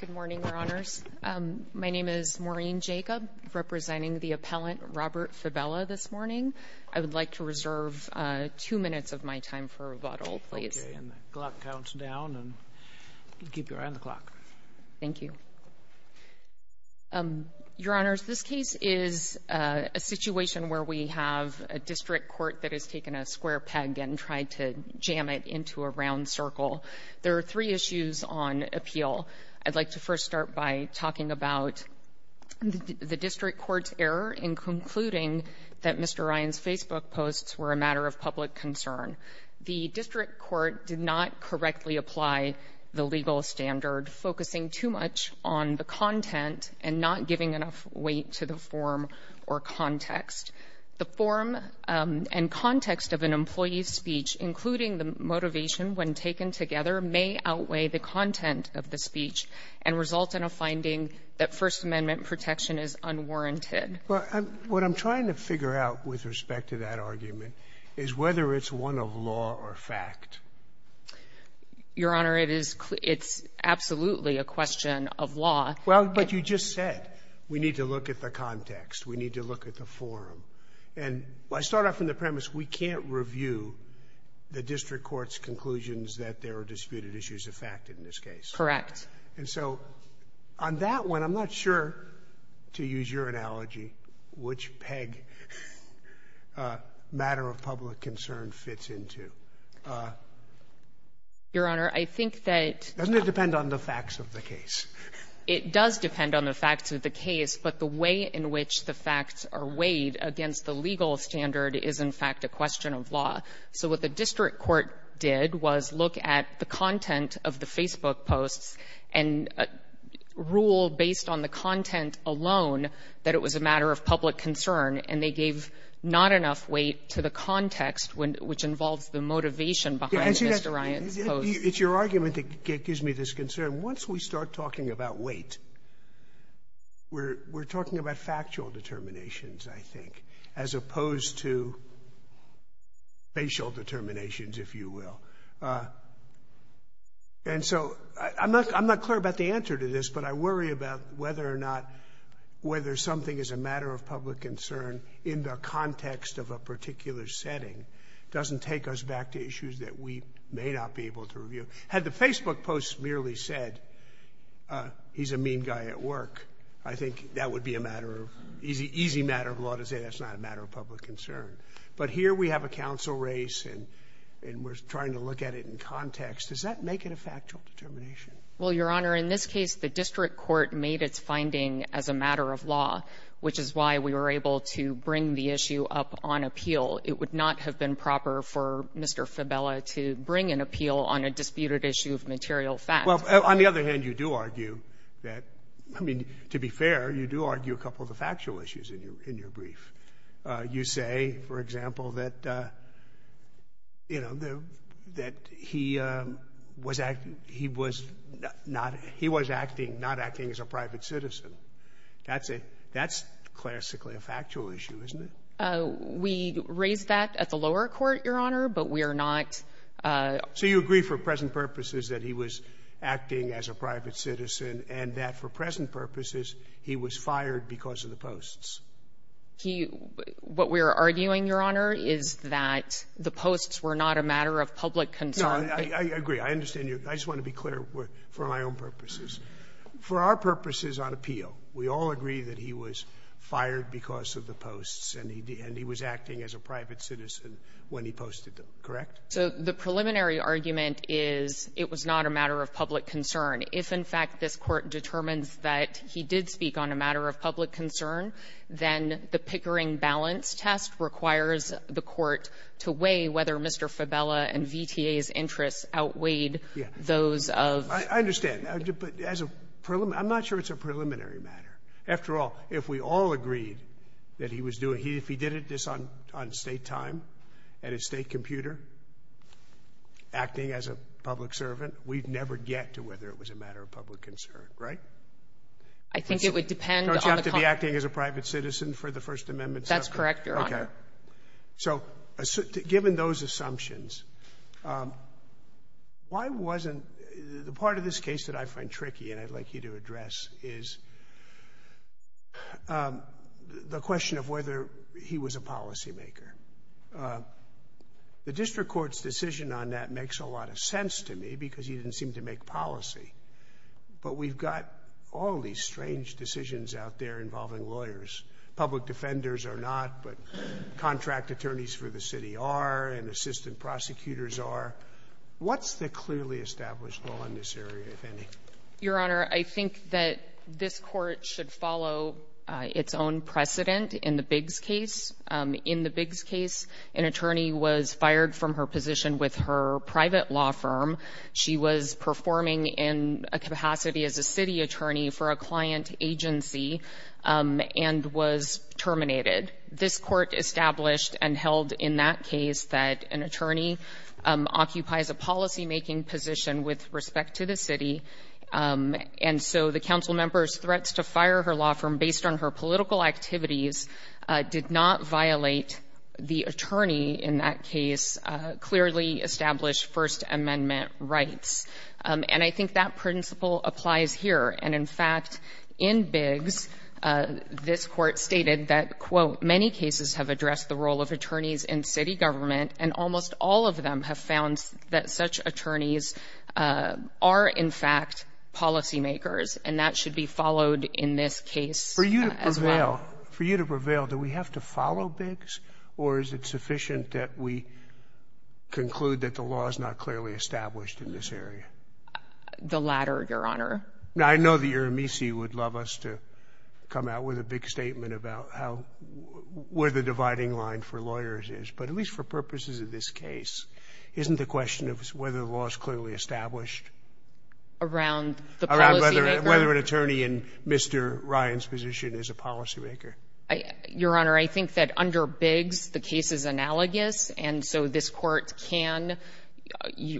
Good morning, Your Honors. My name is Maureen Jacob, representing the appellant Robert Fabela this morning. I would like to reserve two minutes of my time for rebuttal, please. Okay, and the clock counts down, and keep your eye on the clock. Thank you. Your Honors, this case is a situation where we have a district court that has taken a square peg and tried to jam it into a round circle. There are three issues on appeal. I'd like to first start by talking about the district court's error in concluding that Mr. Ryan's Facebook posts were a matter of public concern. The district court did not correctly apply the legal standard, focusing too much on the content and not giving enough weight to the form or context. The form and context of an employee's speech, including the motivation when taken together, may outweigh the content of the speech and result in a finding that First Amendment protection is unwarranted. Well, what I'm trying to figure out with respect to that argument is whether it's one of law or fact. Your Honor, it is absolutely a question of law. Well, but you just said we need to look at the context. We need to look at the form. And I start off from the premise we can't review the district court's conclusions that there are disputed issues of fact in this case. Correct. And so on that one, I'm not sure, to use your analogy, which peg matter of public concern fits into. Your Honor, I think that— Doesn't it depend on the facts of the case? It does depend on the facts of the case. But the way in which the facts are weighed against the legal standard is, in fact, a question of law. So what the district court did was look at the content of the Facebook posts and rule based on the content alone that it was a matter of public concern, and they gave not enough weight to the context, which involves the motivation behind Mr. Ryan's posts. It's your argument that gives me this concern. Once we start talking about weight, we're talking about factual determinations, I think, as opposed to facial determinations, if you will. And so I'm not clear about the answer to this, but I worry about whether or not whether something is a matter of public concern in the context of a particular setting doesn't take us back to issues that we may not be able to review. Had the Facebook posts merely said, he's a mean guy at work, I think that would be a matter of— easy matter of law to say that's not a matter of public concern. But here we have a counsel race, and we're trying to look at it in context. Does that make it a factual determination? Well, Your Honor, in this case, the district court made its finding as a matter of law, which is why we were able to bring the issue up on appeal. It would not have been proper for Mr. Fabella to bring an appeal on a disputed issue of material facts. Well, on the other hand, you do argue that—I mean, to be fair, you do argue a couple of the factual issues in your brief. You say, for example, that, you know, that he was acting—he was not— he was acting—not acting as a private citizen. That's a—that's classically a factual issue, isn't it? We raised that at the lower court, Your Honor, but we are not— So you agree for present purposes that he was acting as a private citizen and that for present purposes he was fired because of the posts? He—what we're arguing, Your Honor, is that the posts were not a matter of public concern. No, I agree. I understand you. I just want to be clear for my own purposes. For our purposes on appeal, we all agree that he was fired because of the posts and he was acting as a private citizen when he posted them, correct? So the preliminary argument is it was not a matter of public concern. If, in fact, this Court determines that he did speak on a matter of public concern, then the Pickering balance test requires the Court to weigh whether Mr. Fabella and VTA's interests outweighed those of— I understand. But as a—I'm not sure it's a preliminary matter. After all, if we all agreed that he was doing— if he did this on state time and a state computer, acting as a public servant, we'd never get to whether it was a matter of public concern, right? I think it would depend on the— Don't you have to be acting as a private citizen for the First Amendment settlement? That's correct, Your Honor. Okay. So given those assumptions, why wasn't—the part of this case that I find tricky and I'd like you to address is the question of whether he was a policymaker. The district court's decision on that makes a lot of sense to me because he didn't seem to make policy. But we've got all these strange decisions out there involving lawyers. Public defenders are not, but contract attorneys for the city are and assistant prosecutors are. What's the clearly established law in this area, if any? Your Honor, I think that this court should follow its own precedent in the Biggs case. In the Biggs case, an attorney was fired from her position with her private law firm. She was performing in a capacity as a city attorney for a client agency and was terminated. This court established and held in that case that an attorney occupies a policymaking position with respect to the city, and so the council member's threats to fire her law firm based on her political activities did not violate the attorney, in that case, clearly established First Amendment rights. And I think that principle applies here. And, in fact, in Biggs, this court stated that, quote, many cases have addressed the role of attorneys in city government and almost all of them have found that such attorneys are, in fact, policymakers, and that should be followed in this case as well. For you to prevail, do we have to follow Biggs, or is it sufficient that we conclude that the law is not clearly established in this area? The latter, Your Honor. Now, I know that Your Amici would love us to come out with a big statement about where the dividing line for lawyers is, but at least for purposes of this case, isn't the question of whether the law is clearly established? Around the policymaker? Around whether an attorney in Mr. Ryan's position is a policymaker. Your Honor, I think that under Biggs, the case is analogous, and so this court can,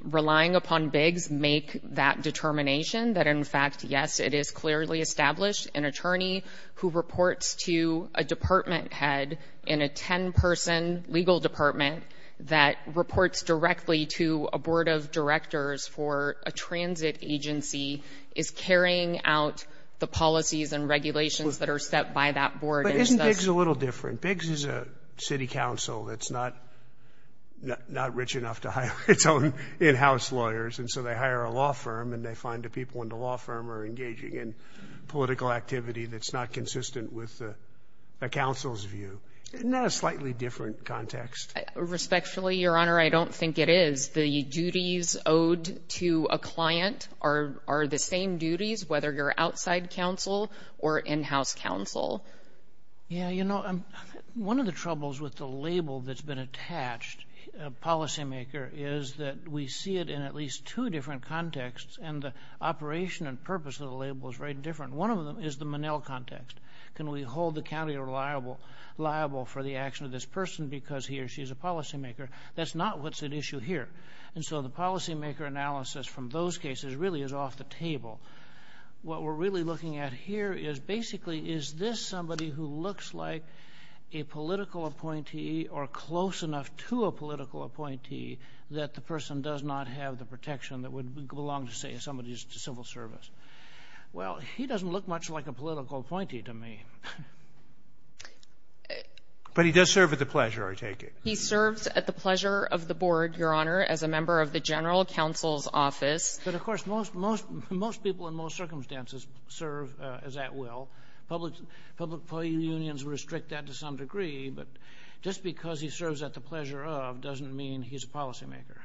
relying upon Biggs, make that determination, that, in fact, yes, it is clearly established. An attorney who reports to a department head in a 10-person legal department that reports directly to a board of directors for a transit agency is carrying out the policies and regulations that are set by that board. But isn't Biggs a little different? Biggs is a city council that's not rich enough to hire its own in-house lawyers, and so they hire a law firm, and they find the people in the law firm are engaging in political activity that's not consistent with the council's view. Isn't that a slightly different context? Respectfully, Your Honor, I don't think it is. The duties owed to a client are the same duties, whether you're outside counsel or in-house counsel. Yeah, you know, one of the troubles with the label that's been attached, a policymaker, is that we see it in at least two different contexts, and the operation and purpose of the label is very different. One of them is the Monell context. Can we hold the county liable for the action of this person because he or she is a policymaker? That's not what's at issue here. And so the policymaker analysis from those cases really is off the table. What we're really looking at here is, basically, is this somebody who looks like a political appointee or close enough to a political appointee that the person does not have the protection that would belong to, say, somebody's civil service? Well, he doesn't look much like a political appointee to me. But he does serve at the pleasure, I take it. He serves at the pleasure of the board, Your Honor, as a member of the general counsel's office. But, of course, most people in most circumstances serve as at will, public unions restrict that to some degree, but just because he serves at the pleasure of doesn't mean he's a policymaker.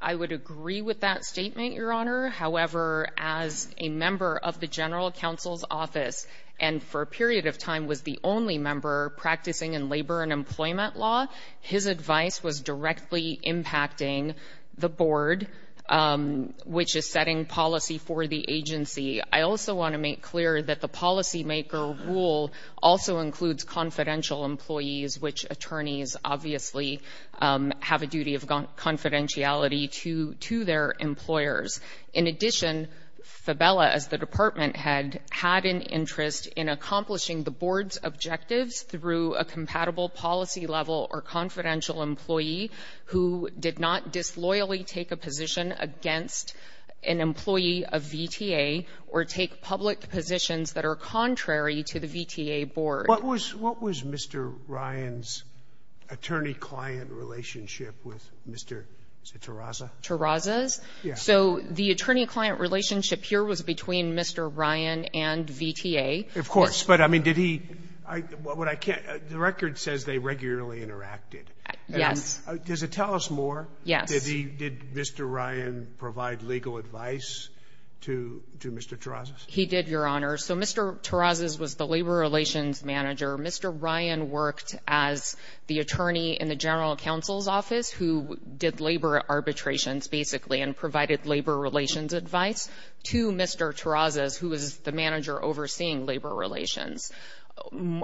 I would agree with that statement, Your Honor. However, as a member of the general counsel's office and for a period of time was the only member practicing in labor and employment law, his advice was directly impacting the board, which is setting policy for the agency. I also want to make clear that the policymaker rule also includes confidential employees, which attorneys obviously have a duty of confidentiality to their employers. In addition, Fabella, as the department head, had an interest in accomplishing the board's objectives through a compatible policy level or confidential employee who did not disloyally take a position against an employee of VTA or take public positions that are contrary to the VTA board. What was Mr. Ryan's attorney-client relationship with Mr. Tarraza? Tarraza's? Yes. So the attorney-client relationship here was between Mr. Ryan and VTA. Of course. But, I mean, did he – what I can't – the record says they regularly interacted. Does it tell us more? Yes. Did Mr. Ryan provide legal advice to Mr. Tarraza's? He did, Your Honor. So Mr. Tarraza's was the labor relations manager. Mr. Ryan worked as the attorney in the general counsel's office who did labor arbitrations basically and provided labor relations advice to Mr. Tarraza's, who was the manager overseeing labor relations.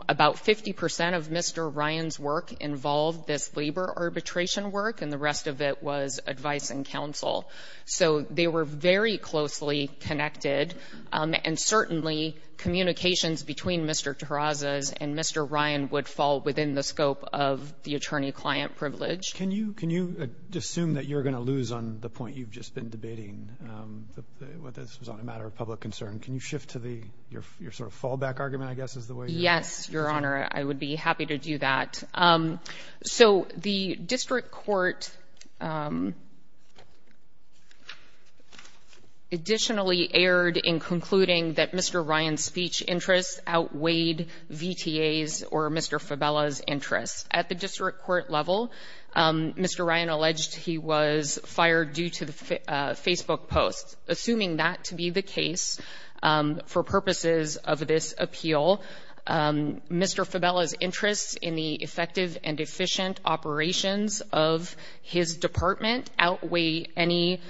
About 50% of Mr. Ryan's work involved this labor arbitration work and the rest of it was advice and counsel. So they were very closely connected, and certainly communications between Mr. Tarraza's and Mr. Ryan would fall within the scope of the attorney-client privilege. Can you assume that you're going to lose on the point you've just been debating? This was on a matter of public concern. Can you shift to your sort of fallback argument, I guess, is the way you're using it? Yes, Your Honor. I would be happy to do that. So the district court additionally erred in concluding that Mr. Ryan's speech interests outweighed VTA's or Mr. Fabella's interests. At the district court level, Mr. Ryan alleged he was fired due to Facebook posts. Assuming that to be the case, for purposes of this appeal, Mr. Fabella's interests in the effective and efficient operations of his department outweigh any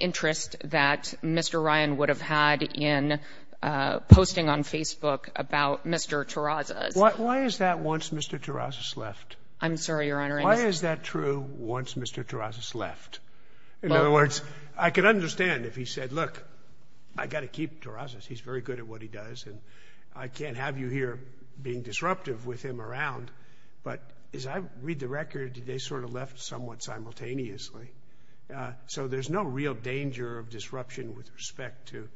interest that Mr. Ryan would have had in posting on Facebook about Mr. Tarraza's. Why is that once Mr. Tarraza's left? I'm sorry, Your Honor. Why is that true once Mr. Tarraza's left? In other words, I can understand if he said, look, I got to keep Tarraza's. He's very good at what he does and I can't have you here being disruptive with him around. But as I read the record, they sort of left somewhat simultaneously. So there's no real danger of disruption with respect to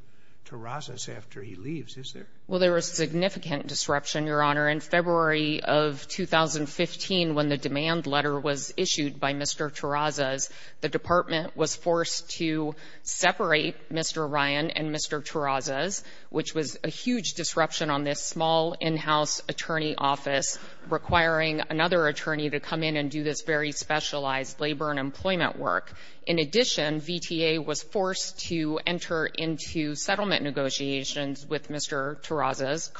Tarraza's after he leaves, is there? Well, there was significant disruption, Your Honor. In February of 2015, when the demand letter was issued by Mr. Tarraza's, the department was forced to separate Mr. Ryan and Mr. Tarraza's, which was a huge disruption on this small in-house attorney office, requiring another attorney to come in and do this very specialized labor and employment work. In addition, VTA was forced to enter into settlement negotiations with Mr. Tarraza's,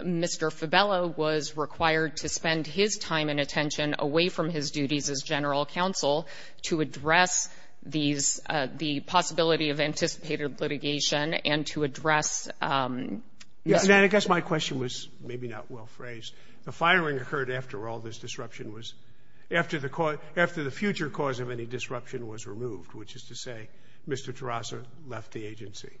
Mr. Fabello was required to spend his time and attention away from his duties as general counsel to address the possibility of anticipated litigation and to address... And I guess my question was maybe not well phrased. The firing occurred after all this disruption was, after the future cause of any disruption was removed, which is to say Mr. Tarraza left the agency.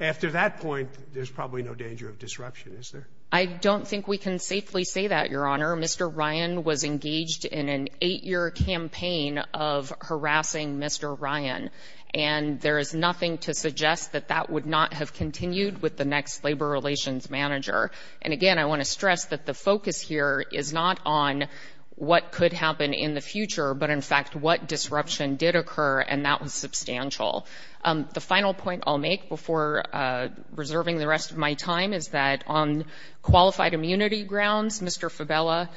After that point, there's probably no danger of disruption, is there? I don't think we can safely say that, Your Honor. Mr. Ryan was engaged in an eight-year campaign of harassing Mr. Ryan, and there is nothing to suggest that that would not have continued with the next labor relations manager. And again, I want to stress that the focus here is not on what could happen in the future, but in fact what disruption did occur, and that was substantial. The final point I'll make before reserving the rest of my time is that on qualified immunity grounds, Mr. Fabello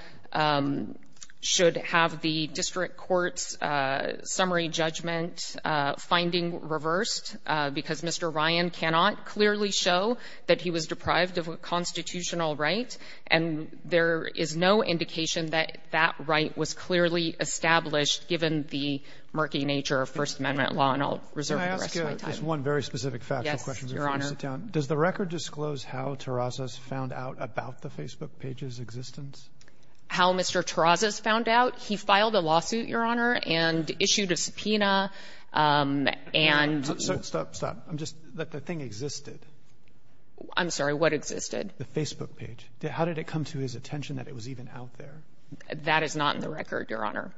should have the district court's summary judgment finding reversed, because Mr. Ryan cannot clearly show that he was deprived of a constitutional right, and there is no indication that that right was clearly established, given the murky nature of First Amendment law, and I'll reserve the rest of my time. Can I ask you just one very specific factual question before you sit down? Yes, Your Honor. Does the record disclose how Tarraza's found out about the Facebook page's existence? How Mr. Tarraza's found out? He filed a lawsuit, Your Honor, and issued a subpoena, and — Stop, stop. I'm just — the thing existed. I'm sorry. What existed? The Facebook page. How did it come to his attention that it was even out there? That is not in the record, Your Honor.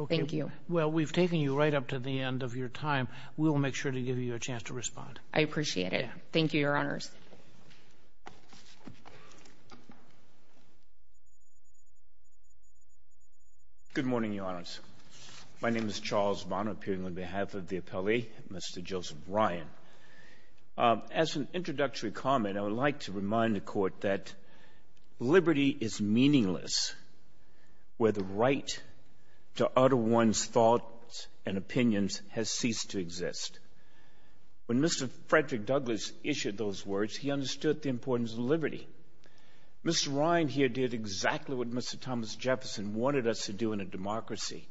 Okay. Thank you. Well, we've taken you right up to the end of your time. We will make sure to give you a chance to respond. I appreciate it. Thank you, Your Honors. Good morning, Your Honors. My name is Charles Bonner, appearing on behalf of the appellee, Mr. Joseph Ryan. As an introductory comment, I would like to remind the Court that liberty is meaningless where the right to utter one's thoughts and opinions has ceased to exist. When Mr. Frederick Douglass issued those words, he understood the importance of liberty. Mr. Ryan here did exactly what Mr. Thomas Jefferson wanted us to do in a democracy,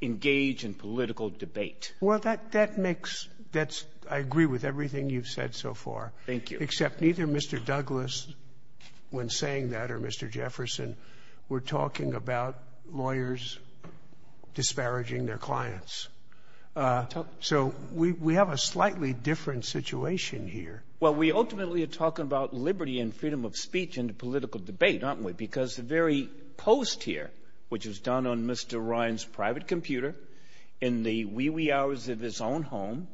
engage in political debate. Well, that makes — that's — I agree with everything you've said so far. Thank you. Except neither Mr. Douglass, when saying that, or Mr. Jefferson, were talking about lawyers disparaging their clients. So we have a slightly different situation here. Well, we ultimately are talking about liberty and freedom of speech in a political debate, aren't we? Because the very post here, which was done on Mr. Ryan's private computer, in the wee-wee hours of his own home,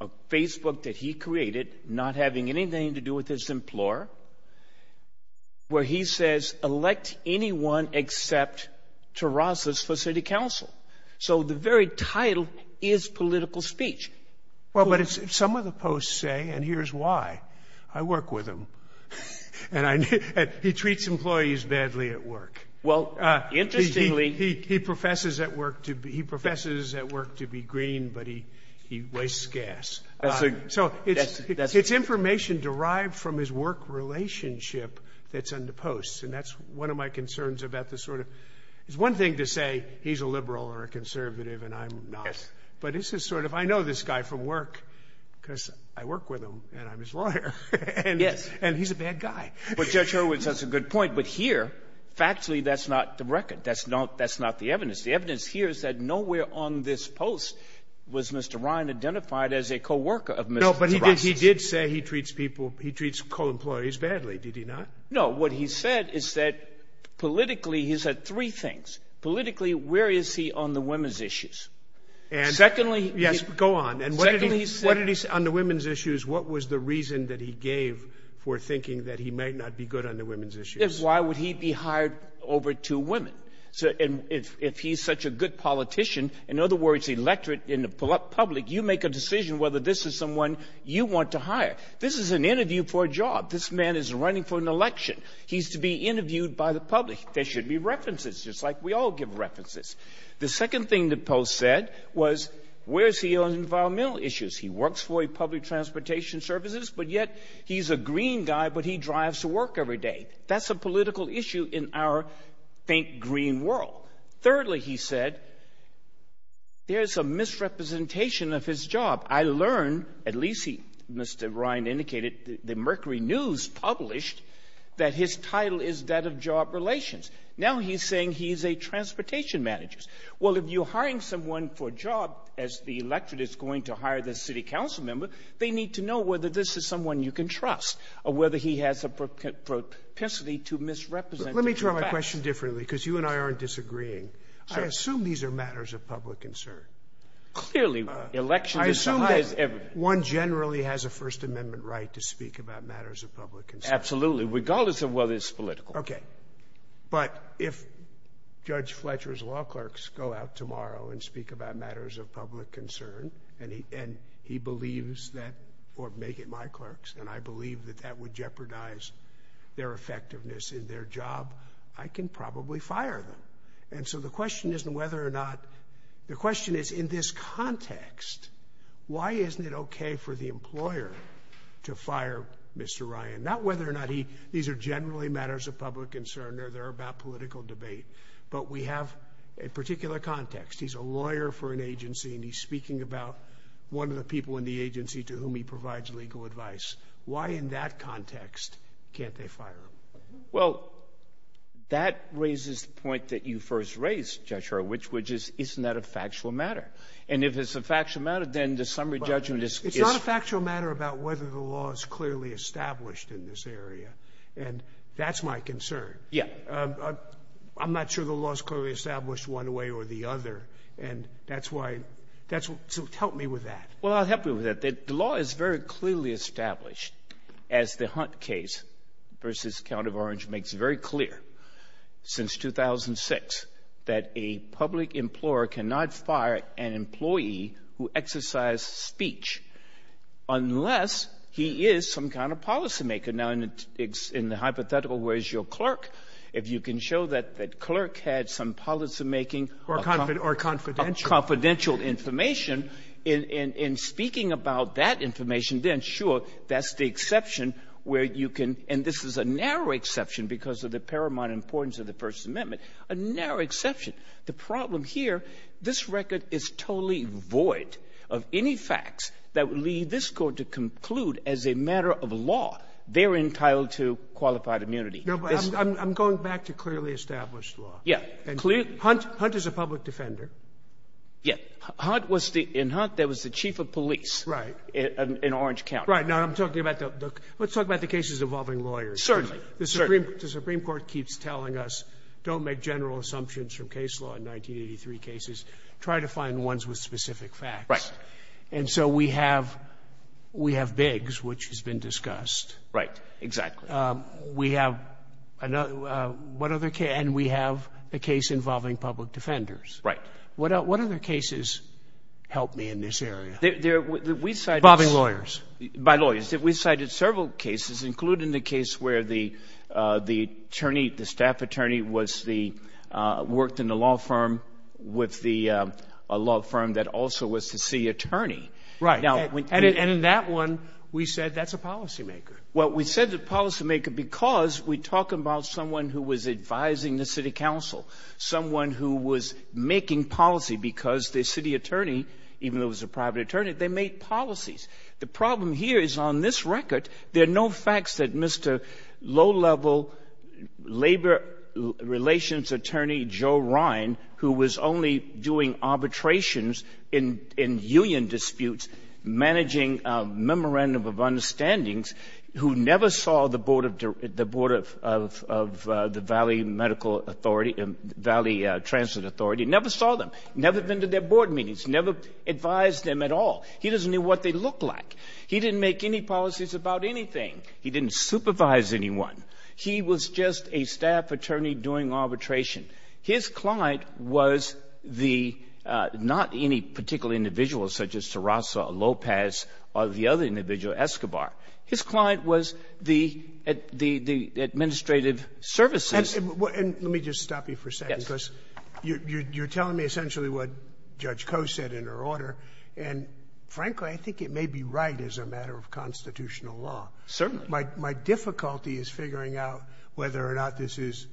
a Facebook that he created, not having anything to do with his employer, where he says, elect anyone except Terrasas for city council. So the very title is political speech. Well, but some of the posts say, and here's why. I work with him. And I — he treats employees badly at work. Well, interestingly — He professes at work to be — he professes at work to be green, but he wastes gas. So it's information derived from his work relationship that's in the posts. And that's one of my concerns about the sort of — it's one thing to say he's a liberal or a conservative, and I'm not. Yes. But it's the sort of — I know this guy from work because I work with him and I'm his lawyer. Yes. And he's a bad guy. Well, Judge Hurwitz, that's a good point. No, but here, factually, that's not the record. That's not the evidence. The evidence here is that nowhere on this post was Mr. Ryan identified as a co-worker of Mr. Terrasas. No, but he did say he treats people — he treats co-employees badly, did he not? No, what he said is that politically — he said three things. Politically, where is he on the women's issues? And — Secondly — Yes, go on. And what did he say on the women's issues? What was the reason that he gave for thinking that he might not be good on the women's issues? Why would he be hired over two women? And if he's such a good politician, in other words, electorate in the public, you make a decision whether this is someone you want to hire. This is an interview for a job. This man is running for an election. He's to be interviewed by the public. There should be references, just like we all give references. The second thing the post said was, where is he on environmental issues? He works for public transportation services, but yet he's a green guy, but he drives to work every day. That's a political issue in our faint green world. Thirdly, he said, there's a misrepresentation of his job. I learned — at least, Mr. Ryan indicated, the Mercury News published — that his title is that of job relations. Now he's saying he's a transportation manager. Well, if you're hiring someone for a job as the electorate is going to hire the city council member, they need to know whether this is someone you can trust, or whether he has a propensity to misrepresent the facts. Let me try my question differently, because you and I aren't disagreeing. I assume these are matters of public concern. Clearly, election is the highest — I assume that one generally has a First Amendment right to speak about matters of public concern. Absolutely, regardless of whether it's political. OK. But if Judge Fletcher's law clerks go out tomorrow and speak about matters of public concern, and he believes that — or make it my clerks, and I believe that that would jeopardize their effectiveness in their job, I can probably fire them. And so the question isn't whether or not — the question is, in this context, why isn't it OK for the employer to fire Mr. Ryan? Not whether or not he — these are generally matters of public concern, or they're about political debate. But we have a particular context. He's a lawyer for an agency, and he's speaking about one of the people in the agency to whom he provides legal advice. Why, in that context, can't they fire him? Well, that raises the point that you first raised, Judge Hurwitz, which is, isn't that a factual matter? And if it's a factual matter, then the summary judgment is — It's a factual matter about whether the law is clearly established in this area, and that's my concern. Yeah. I'm not sure the law is clearly established one way or the other, and that's why — so help me with that. Well, I'll help you with that. The law is very clearly established, as the Hunt case versus Count of Orange makes very clear, since 2006, that a public employer cannot fire an employee who exercised speech unless he is some kind of policymaker. Now, in the hypothetical, where is your clerk? If you can show that the clerk had some policymaking — Or confidential. Confidential information, in speaking about that information, then, sure, that's the exception where you can — and this is a narrow exception because of the paramount importance of the First Amendment, a narrow exception. The problem here, this record is totally void of any facts that would lead this Court to conclude as a matter of law they're entitled to qualified immunity. No, but I'm going back to clearly established law. Yeah. And Hunt is a public defender. Yeah. Hunt was the — in Hunt, there was the chief of police. Right. In Orange County. Right. Now, I'm talking about the — let's talk about the cases involving lawyers. Certainly. Certainly. The Supreme Court keeps telling us, don't make general assumptions from case law in 1983 cases. Try to find ones with specific facts. Right. And so we have — we have Biggs, which has been discussed. Right. Exactly. We have another — what other case — and we have a case involving public defenders. Right. What other cases help me in this area? We cited — Involving lawyers. By lawyers. We cited several cases, including the case where the attorney, the staff attorney, was the — worked in a law firm with the — a law firm that also was the city attorney. Right. And in that one, we said that's a policymaker. Well, we said the policymaker because we're talking about someone who was advising the city council, someone who was making policy because the city attorney, even though it The problem here is, on this record, there are no facts that Mr. low-level labor relations attorney Joe Ryan, who was only doing arbitrations in union disputes, managing a memorandum of understandings, who never saw the board of — the board of the Valley Medical Authority and Valley Transit Authority, never saw them, never been to their board meetings, never advised them at all. He doesn't know what they look like. He didn't make any policies about anything. He didn't supervise anyone. He was just a staff attorney doing arbitration. His client was the — not any particular individual, such as Tarasso or Lopez or the other individual, Escobar. His client was the — the administrative services. And let me just stop you for a second, because you're telling me essentially what Judge Coe said in her order. And, frankly, I think it may be right as a matter of constitutional law. Certainly. My difficulty is figuring out whether or not this is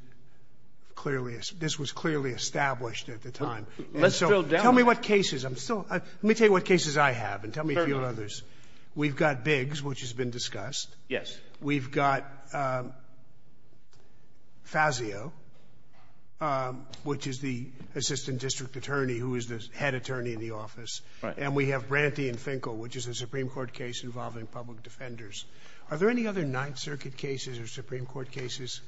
clearly — this was clearly established at the time. Let's drill down. And so tell me what cases. I'm still — let me tell you what cases I have and tell me a few others. Fair enough. We've got Biggs, which has been discussed. Yes. We've got Fazio, which is the assistant district attorney who is the head attorney in the office. Right. And we have Branty and Finkel, which is a Supreme Court case involving public defenders. Are there any other Ninth Circuit cases or Supreme Court cases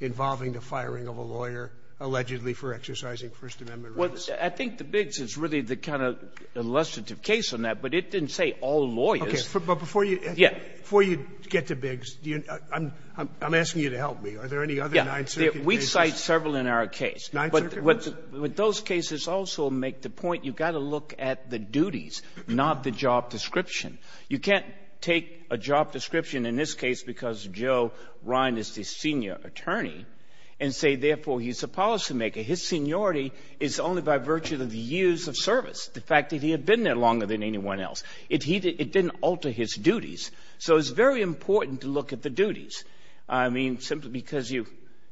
involving the firing of a lawyer allegedly for exercising First Amendment rights? Well, I think the Biggs is really the kind of illustrative case on that, but it didn't say all lawyers. Okay. But before you — Yeah. Before you get to Biggs, I'm asking you to help me. Are there any other Ninth Circuit cases? Yeah. We cite several in our case. Ninth Circuit? But those cases also make the point you've got to look at the duties, not the job description. You can't take a job description in this case because Joe Ryan is the senior attorney and say, therefore, he's a policymaker. His seniority is only by virtue of the years of service, the fact that he had been there longer than anyone else. It didn't alter his duties. So it's very important to look at the duties. I mean, simply because you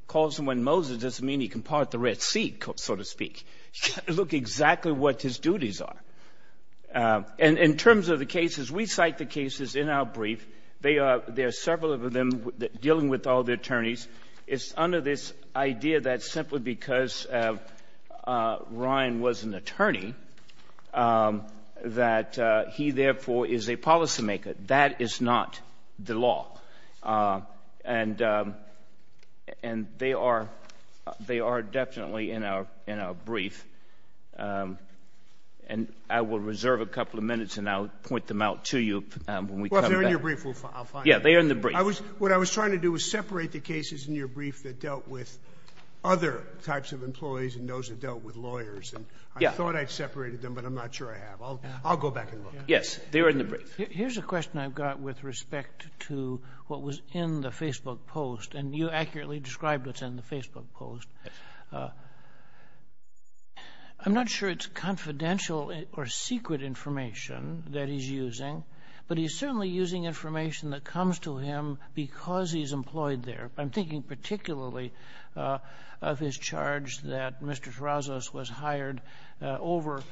call someone Moses doesn't mean he can part the Red Sea, so to speak. You've got to look exactly what his duties are. And in terms of the cases, we cite the cases in our brief. They are — there are several of them dealing with all the attorneys. It's under this idea that simply because Ryan was an attorney that he, therefore, is a policymaker. That is not the law. And they are — they are definitely in our — in our brief. And I will reserve a couple of minutes and I'll point them out to you when we come back. Well, if they're in your brief, I'll find them. Yeah, they're in the brief. I was — what I was trying to do was separate the cases in your brief that dealt with other types of employees and those that dealt with lawyers. Yeah. And I thought I'd separated them, but I'm not sure I have. I'll go back and look. Yes, they were in the brief. Here's a question I've got with respect to what was in the Facebook post. And you accurately described what's in the Facebook post. I'm not sure it's confidential or secret information that he's using, but he's certainly using information that comes to him because he's employed there. I'm thinking particularly of his charge that Mr. Tarazos was hired over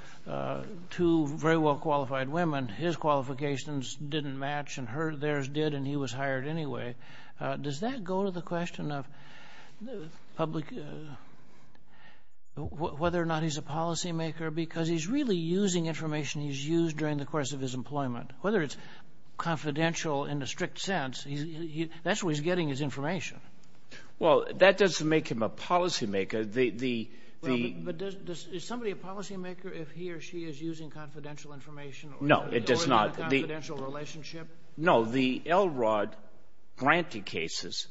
two very well-qualified women. His qualifications didn't match, and hers did, and he was hired anyway. Does that go to the question of public — whether or not he's a policymaker? Because he's really using information he's used during the course of his employment. Whether it's confidential in a strict sense, that's where he's getting his information. Well, that doesn't make him a policymaker. The — Well, but does — is somebody a policymaker if he or she is using confidential information or — No, it does not. — confidential relationship? No. The Elrod grantee cases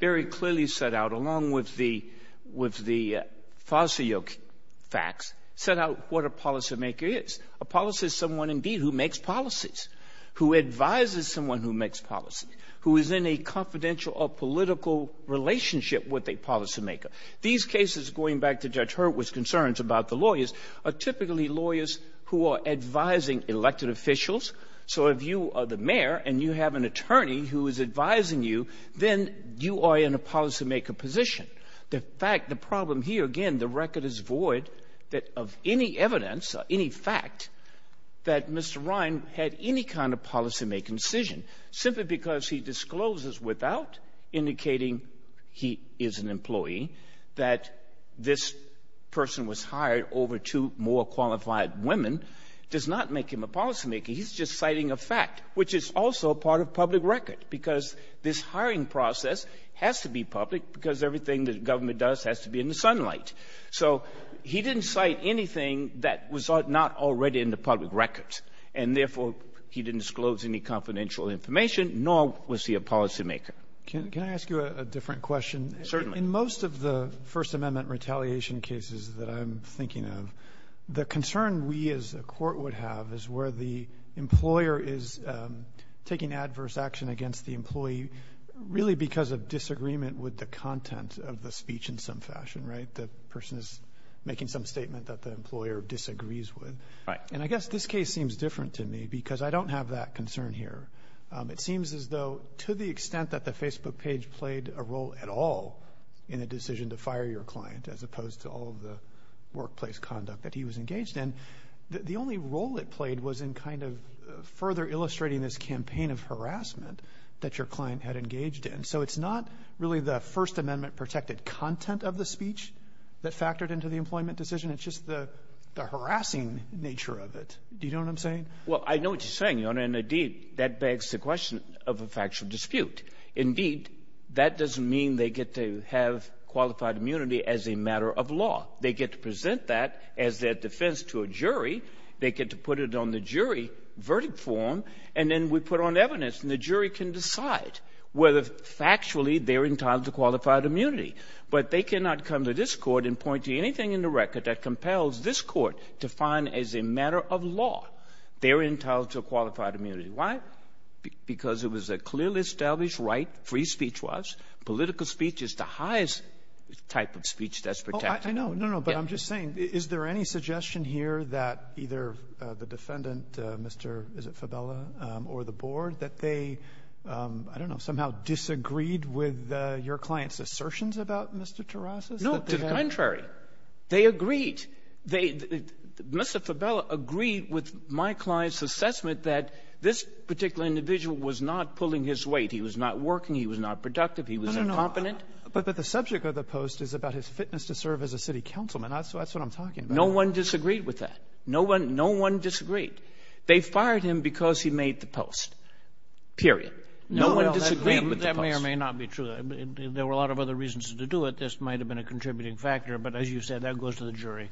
very clearly set out, along with the — with the Fossil Radio facts, set out what a policymaker is. A policy is someone, indeed, who makes policies, who advises someone who makes policies, who is in a confidential or political relationship with a policymaker. These cases, going back to Judge Hurwitz's concerns about the lawyers, are typically lawyers who are advising elected officials. So if you are the mayor and you have an attorney who is advising you, then you are in a policymaker position. The fact — the problem here, again, the record is void that of any evidence or any fact that Mr. Ryan had any kind of policymaking decision, simply because he discloses without indicating he is an employee, that this person was hired over two more qualified women, does not make him a policymaker. He's just citing a fact, which is also part of public record, because this hiring process has to be public because everything the government does has to be in the sunlight. So he didn't cite anything that was not already in the public record. And therefore, he didn't disclose any confidential information, nor was he a policymaker. Can I ask you a different question? Certainly. In most of the First Amendment retaliation cases that I'm thinking of, the concern we as a court would have is where the employer is taking adverse action against the employee really because of disagreement with the content of the speech in some fashion, right? The person is making some statement that the employer disagrees with. Right. And I guess this case seems different to me because I don't have that concern here. It seems as though to the extent that the Facebook page played a role at all in the workplace conduct that he was engaged in, the only role it played was in kind of further illustrating this campaign of harassment that your client had engaged in. So it's not really the First Amendment-protected content of the speech that factored into the employment decision. It's just the harassing nature of it. Do you know what I'm saying? Well, I know what you're saying, Your Honor, and, indeed, that begs the question of a factual dispute. Indeed, that doesn't mean they get to have qualified immunity as a matter of fact. They get to present that as their defense to a jury. They get to put it on the jury verdict form, and then we put on evidence, and the jury can decide whether factually they're entitled to qualified immunity. But they cannot come to this Court and point to anything in the record that compels this Court to find as a matter of law they're entitled to a qualified immunity. Why? Because it was a clearly established right, free speech was. Political speech is the highest type of speech that's protected. I know. No, no. But I'm just saying, is there any suggestion here that either the defendant, Mr. is it Fabella, or the board, that they, I don't know, somehow disagreed with your client's assertions about Mr. Terrasas? No. To the contrary. They agreed. They — Mr. Fabella agreed with my client's assessment that this particular individual was not pulling his weight. He was not working. He was not productive. He was incompetent. But the subject of the post is about his fitness to serve as a city councilman. That's what I'm talking about. No one disagreed with that. No one disagreed. They fired him because he made the post. Period. No one disagreed with the post. That may or may not be true. There were a lot of other reasons to do it. This might have been a contributing factor. But as you said, that goes to the jury.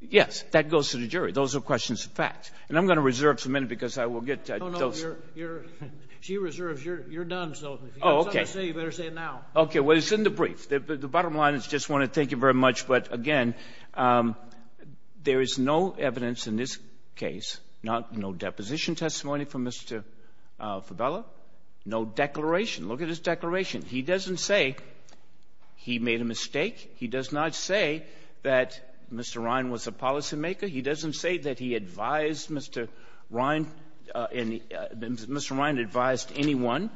Yes. That goes to the jury. Those are questions of fact. And I'm going to reserve for a minute because I will get those — No, no. You're — she reserves. You're done. Oh, okay. You better say it now. Okay. Well, it's in the brief. The bottom line is I just want to thank you very much. But, again, there is no evidence in this case, no deposition testimony from Mr. Fabella, no declaration. Look at his declaration. He doesn't say he made a mistake. He does not say that Mr. Ryan was a policymaker. He doesn't say that he advised Mr. Ryan. Mr. Ryan advised anyone.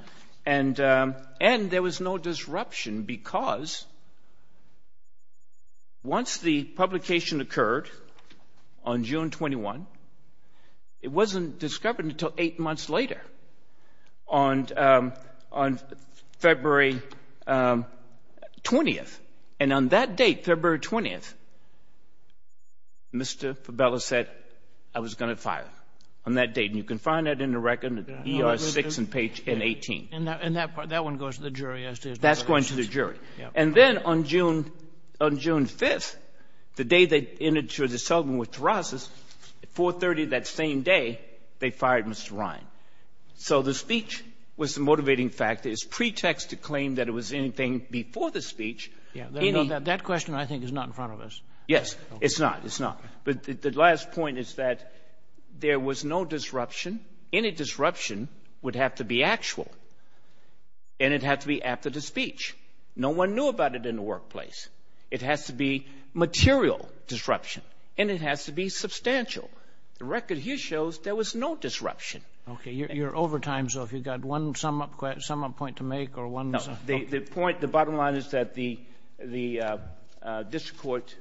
And there was no disruption because once the publication occurred on June 21, it wasn't discovered until eight months later, on February 20th. And on that date, February 20th, Mr. Fabella said, I was going to fire him, on that date. And you can find that in the record, in ER 6 and page 18. And that one goes to the jury as to — That's going to the jury. Yes. And then on June 5th, the day they entered into a settlement with Terrasas, at 430, that same day, they fired Mr. Ryan. So the speech was the motivating factor. claim that it was anything before the speech. That question, I think, is not in front of us. Yes. It's not. It's not. But the last point is that there was no disruption. Any disruption would have to be actual. And it had to be after the speech. No one knew about it in the workplace. It has to be material disruption. And it has to be substantial. The record here shows there was no disruption. Okay. You're over time, so if you've got one sum-up point to make or one — No. The point, the bottom line is that the district court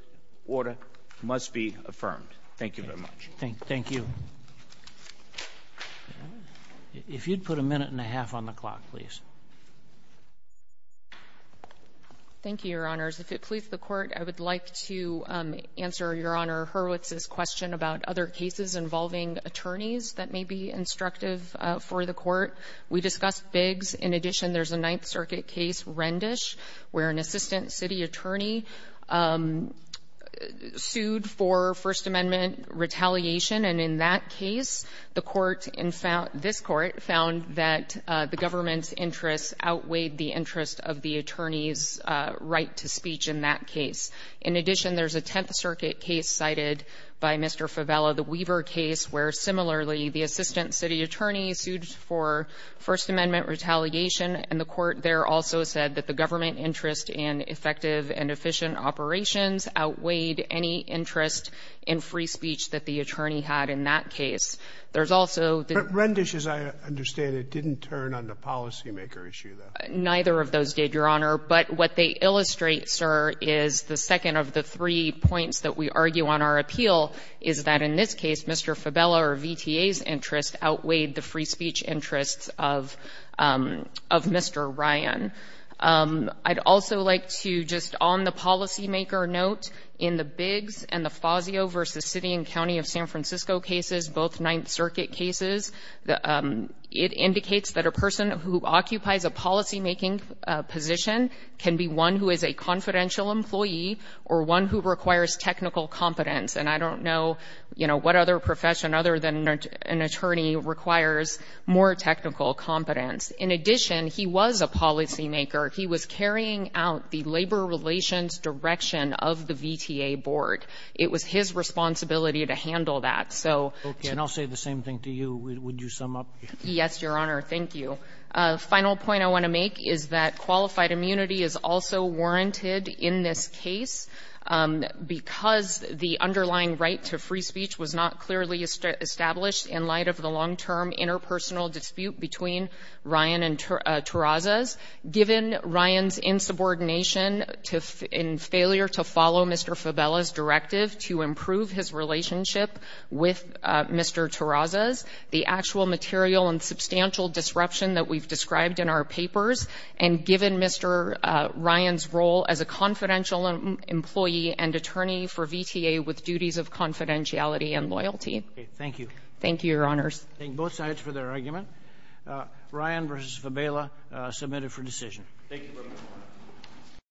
order must be affirmed. Thank you very much. Thank you. If you'd put a minute and a half on the clock, please. Thank you, Your Honors. If it pleases the Court, I would like to answer Your Honor Hurwitz's question about other cases involving attorneys that may be instructive for the Court. We discussed Biggs. In addition, there's a Ninth Circuit case, Rendish, where an assistant city attorney sued for First Amendment retaliation. And in that case, the Court in — this Court found that the government's interests outweighed the interest of the attorney's right to speech in that case. In addition, there's a Tenth Circuit case cited by Mr. Fevella, the Weaver case, where, similarly, the assistant city attorney sued for First Amendment retaliation. And the Court there also said that the government interest in effective and efficient operations outweighed any interest in free speech that the attorney had in that case. There's also the — Rendish, as I understand it, didn't turn on the policymaker issue, though. Neither of those did, Your Honor. But what they illustrate, sir, is the second of the three points that we argue on our appeal, is that in this case, Mr. Fevella or VTA's interest outweighed the free speech interests of Mr. Ryan. I'd also like to, just on the policymaker note, in the Biggs and the Fazio versus City and County of San Francisco cases, both Ninth Circuit cases, it indicates that a person who occupies a policymaking position can be one who is a confidential employee or one who requires technical competence. And I don't know, you know, what other profession other than an attorney requires more technical competence. In addition, he was a policymaker. He was carrying out the labor relations direction of the VTA board. It was his responsibility to handle that. Okay, and I'll say the same thing to you. Would you sum up? Yes, Your Honor. Thank you. The final point I want to make is that qualified immunity is also warranted in this case because the underlying right to free speech was not clearly established in light of the long-term interpersonal dispute between Ryan and Terrazas. Given Ryan's insubordination and failure to follow Mr. Fevella's directive to improve his relationship with Mr. Terrazas, the actual material and substantial disruption that we've described in our papers, and given Mr. Ryan's role as a confidential employee and attorney for VTA with duties of confidentiality and loyalty. Thank you. Thank you, Your Honors. Thank both sides for their argument. Ryan versus Fevella submitted for decision. Thank you.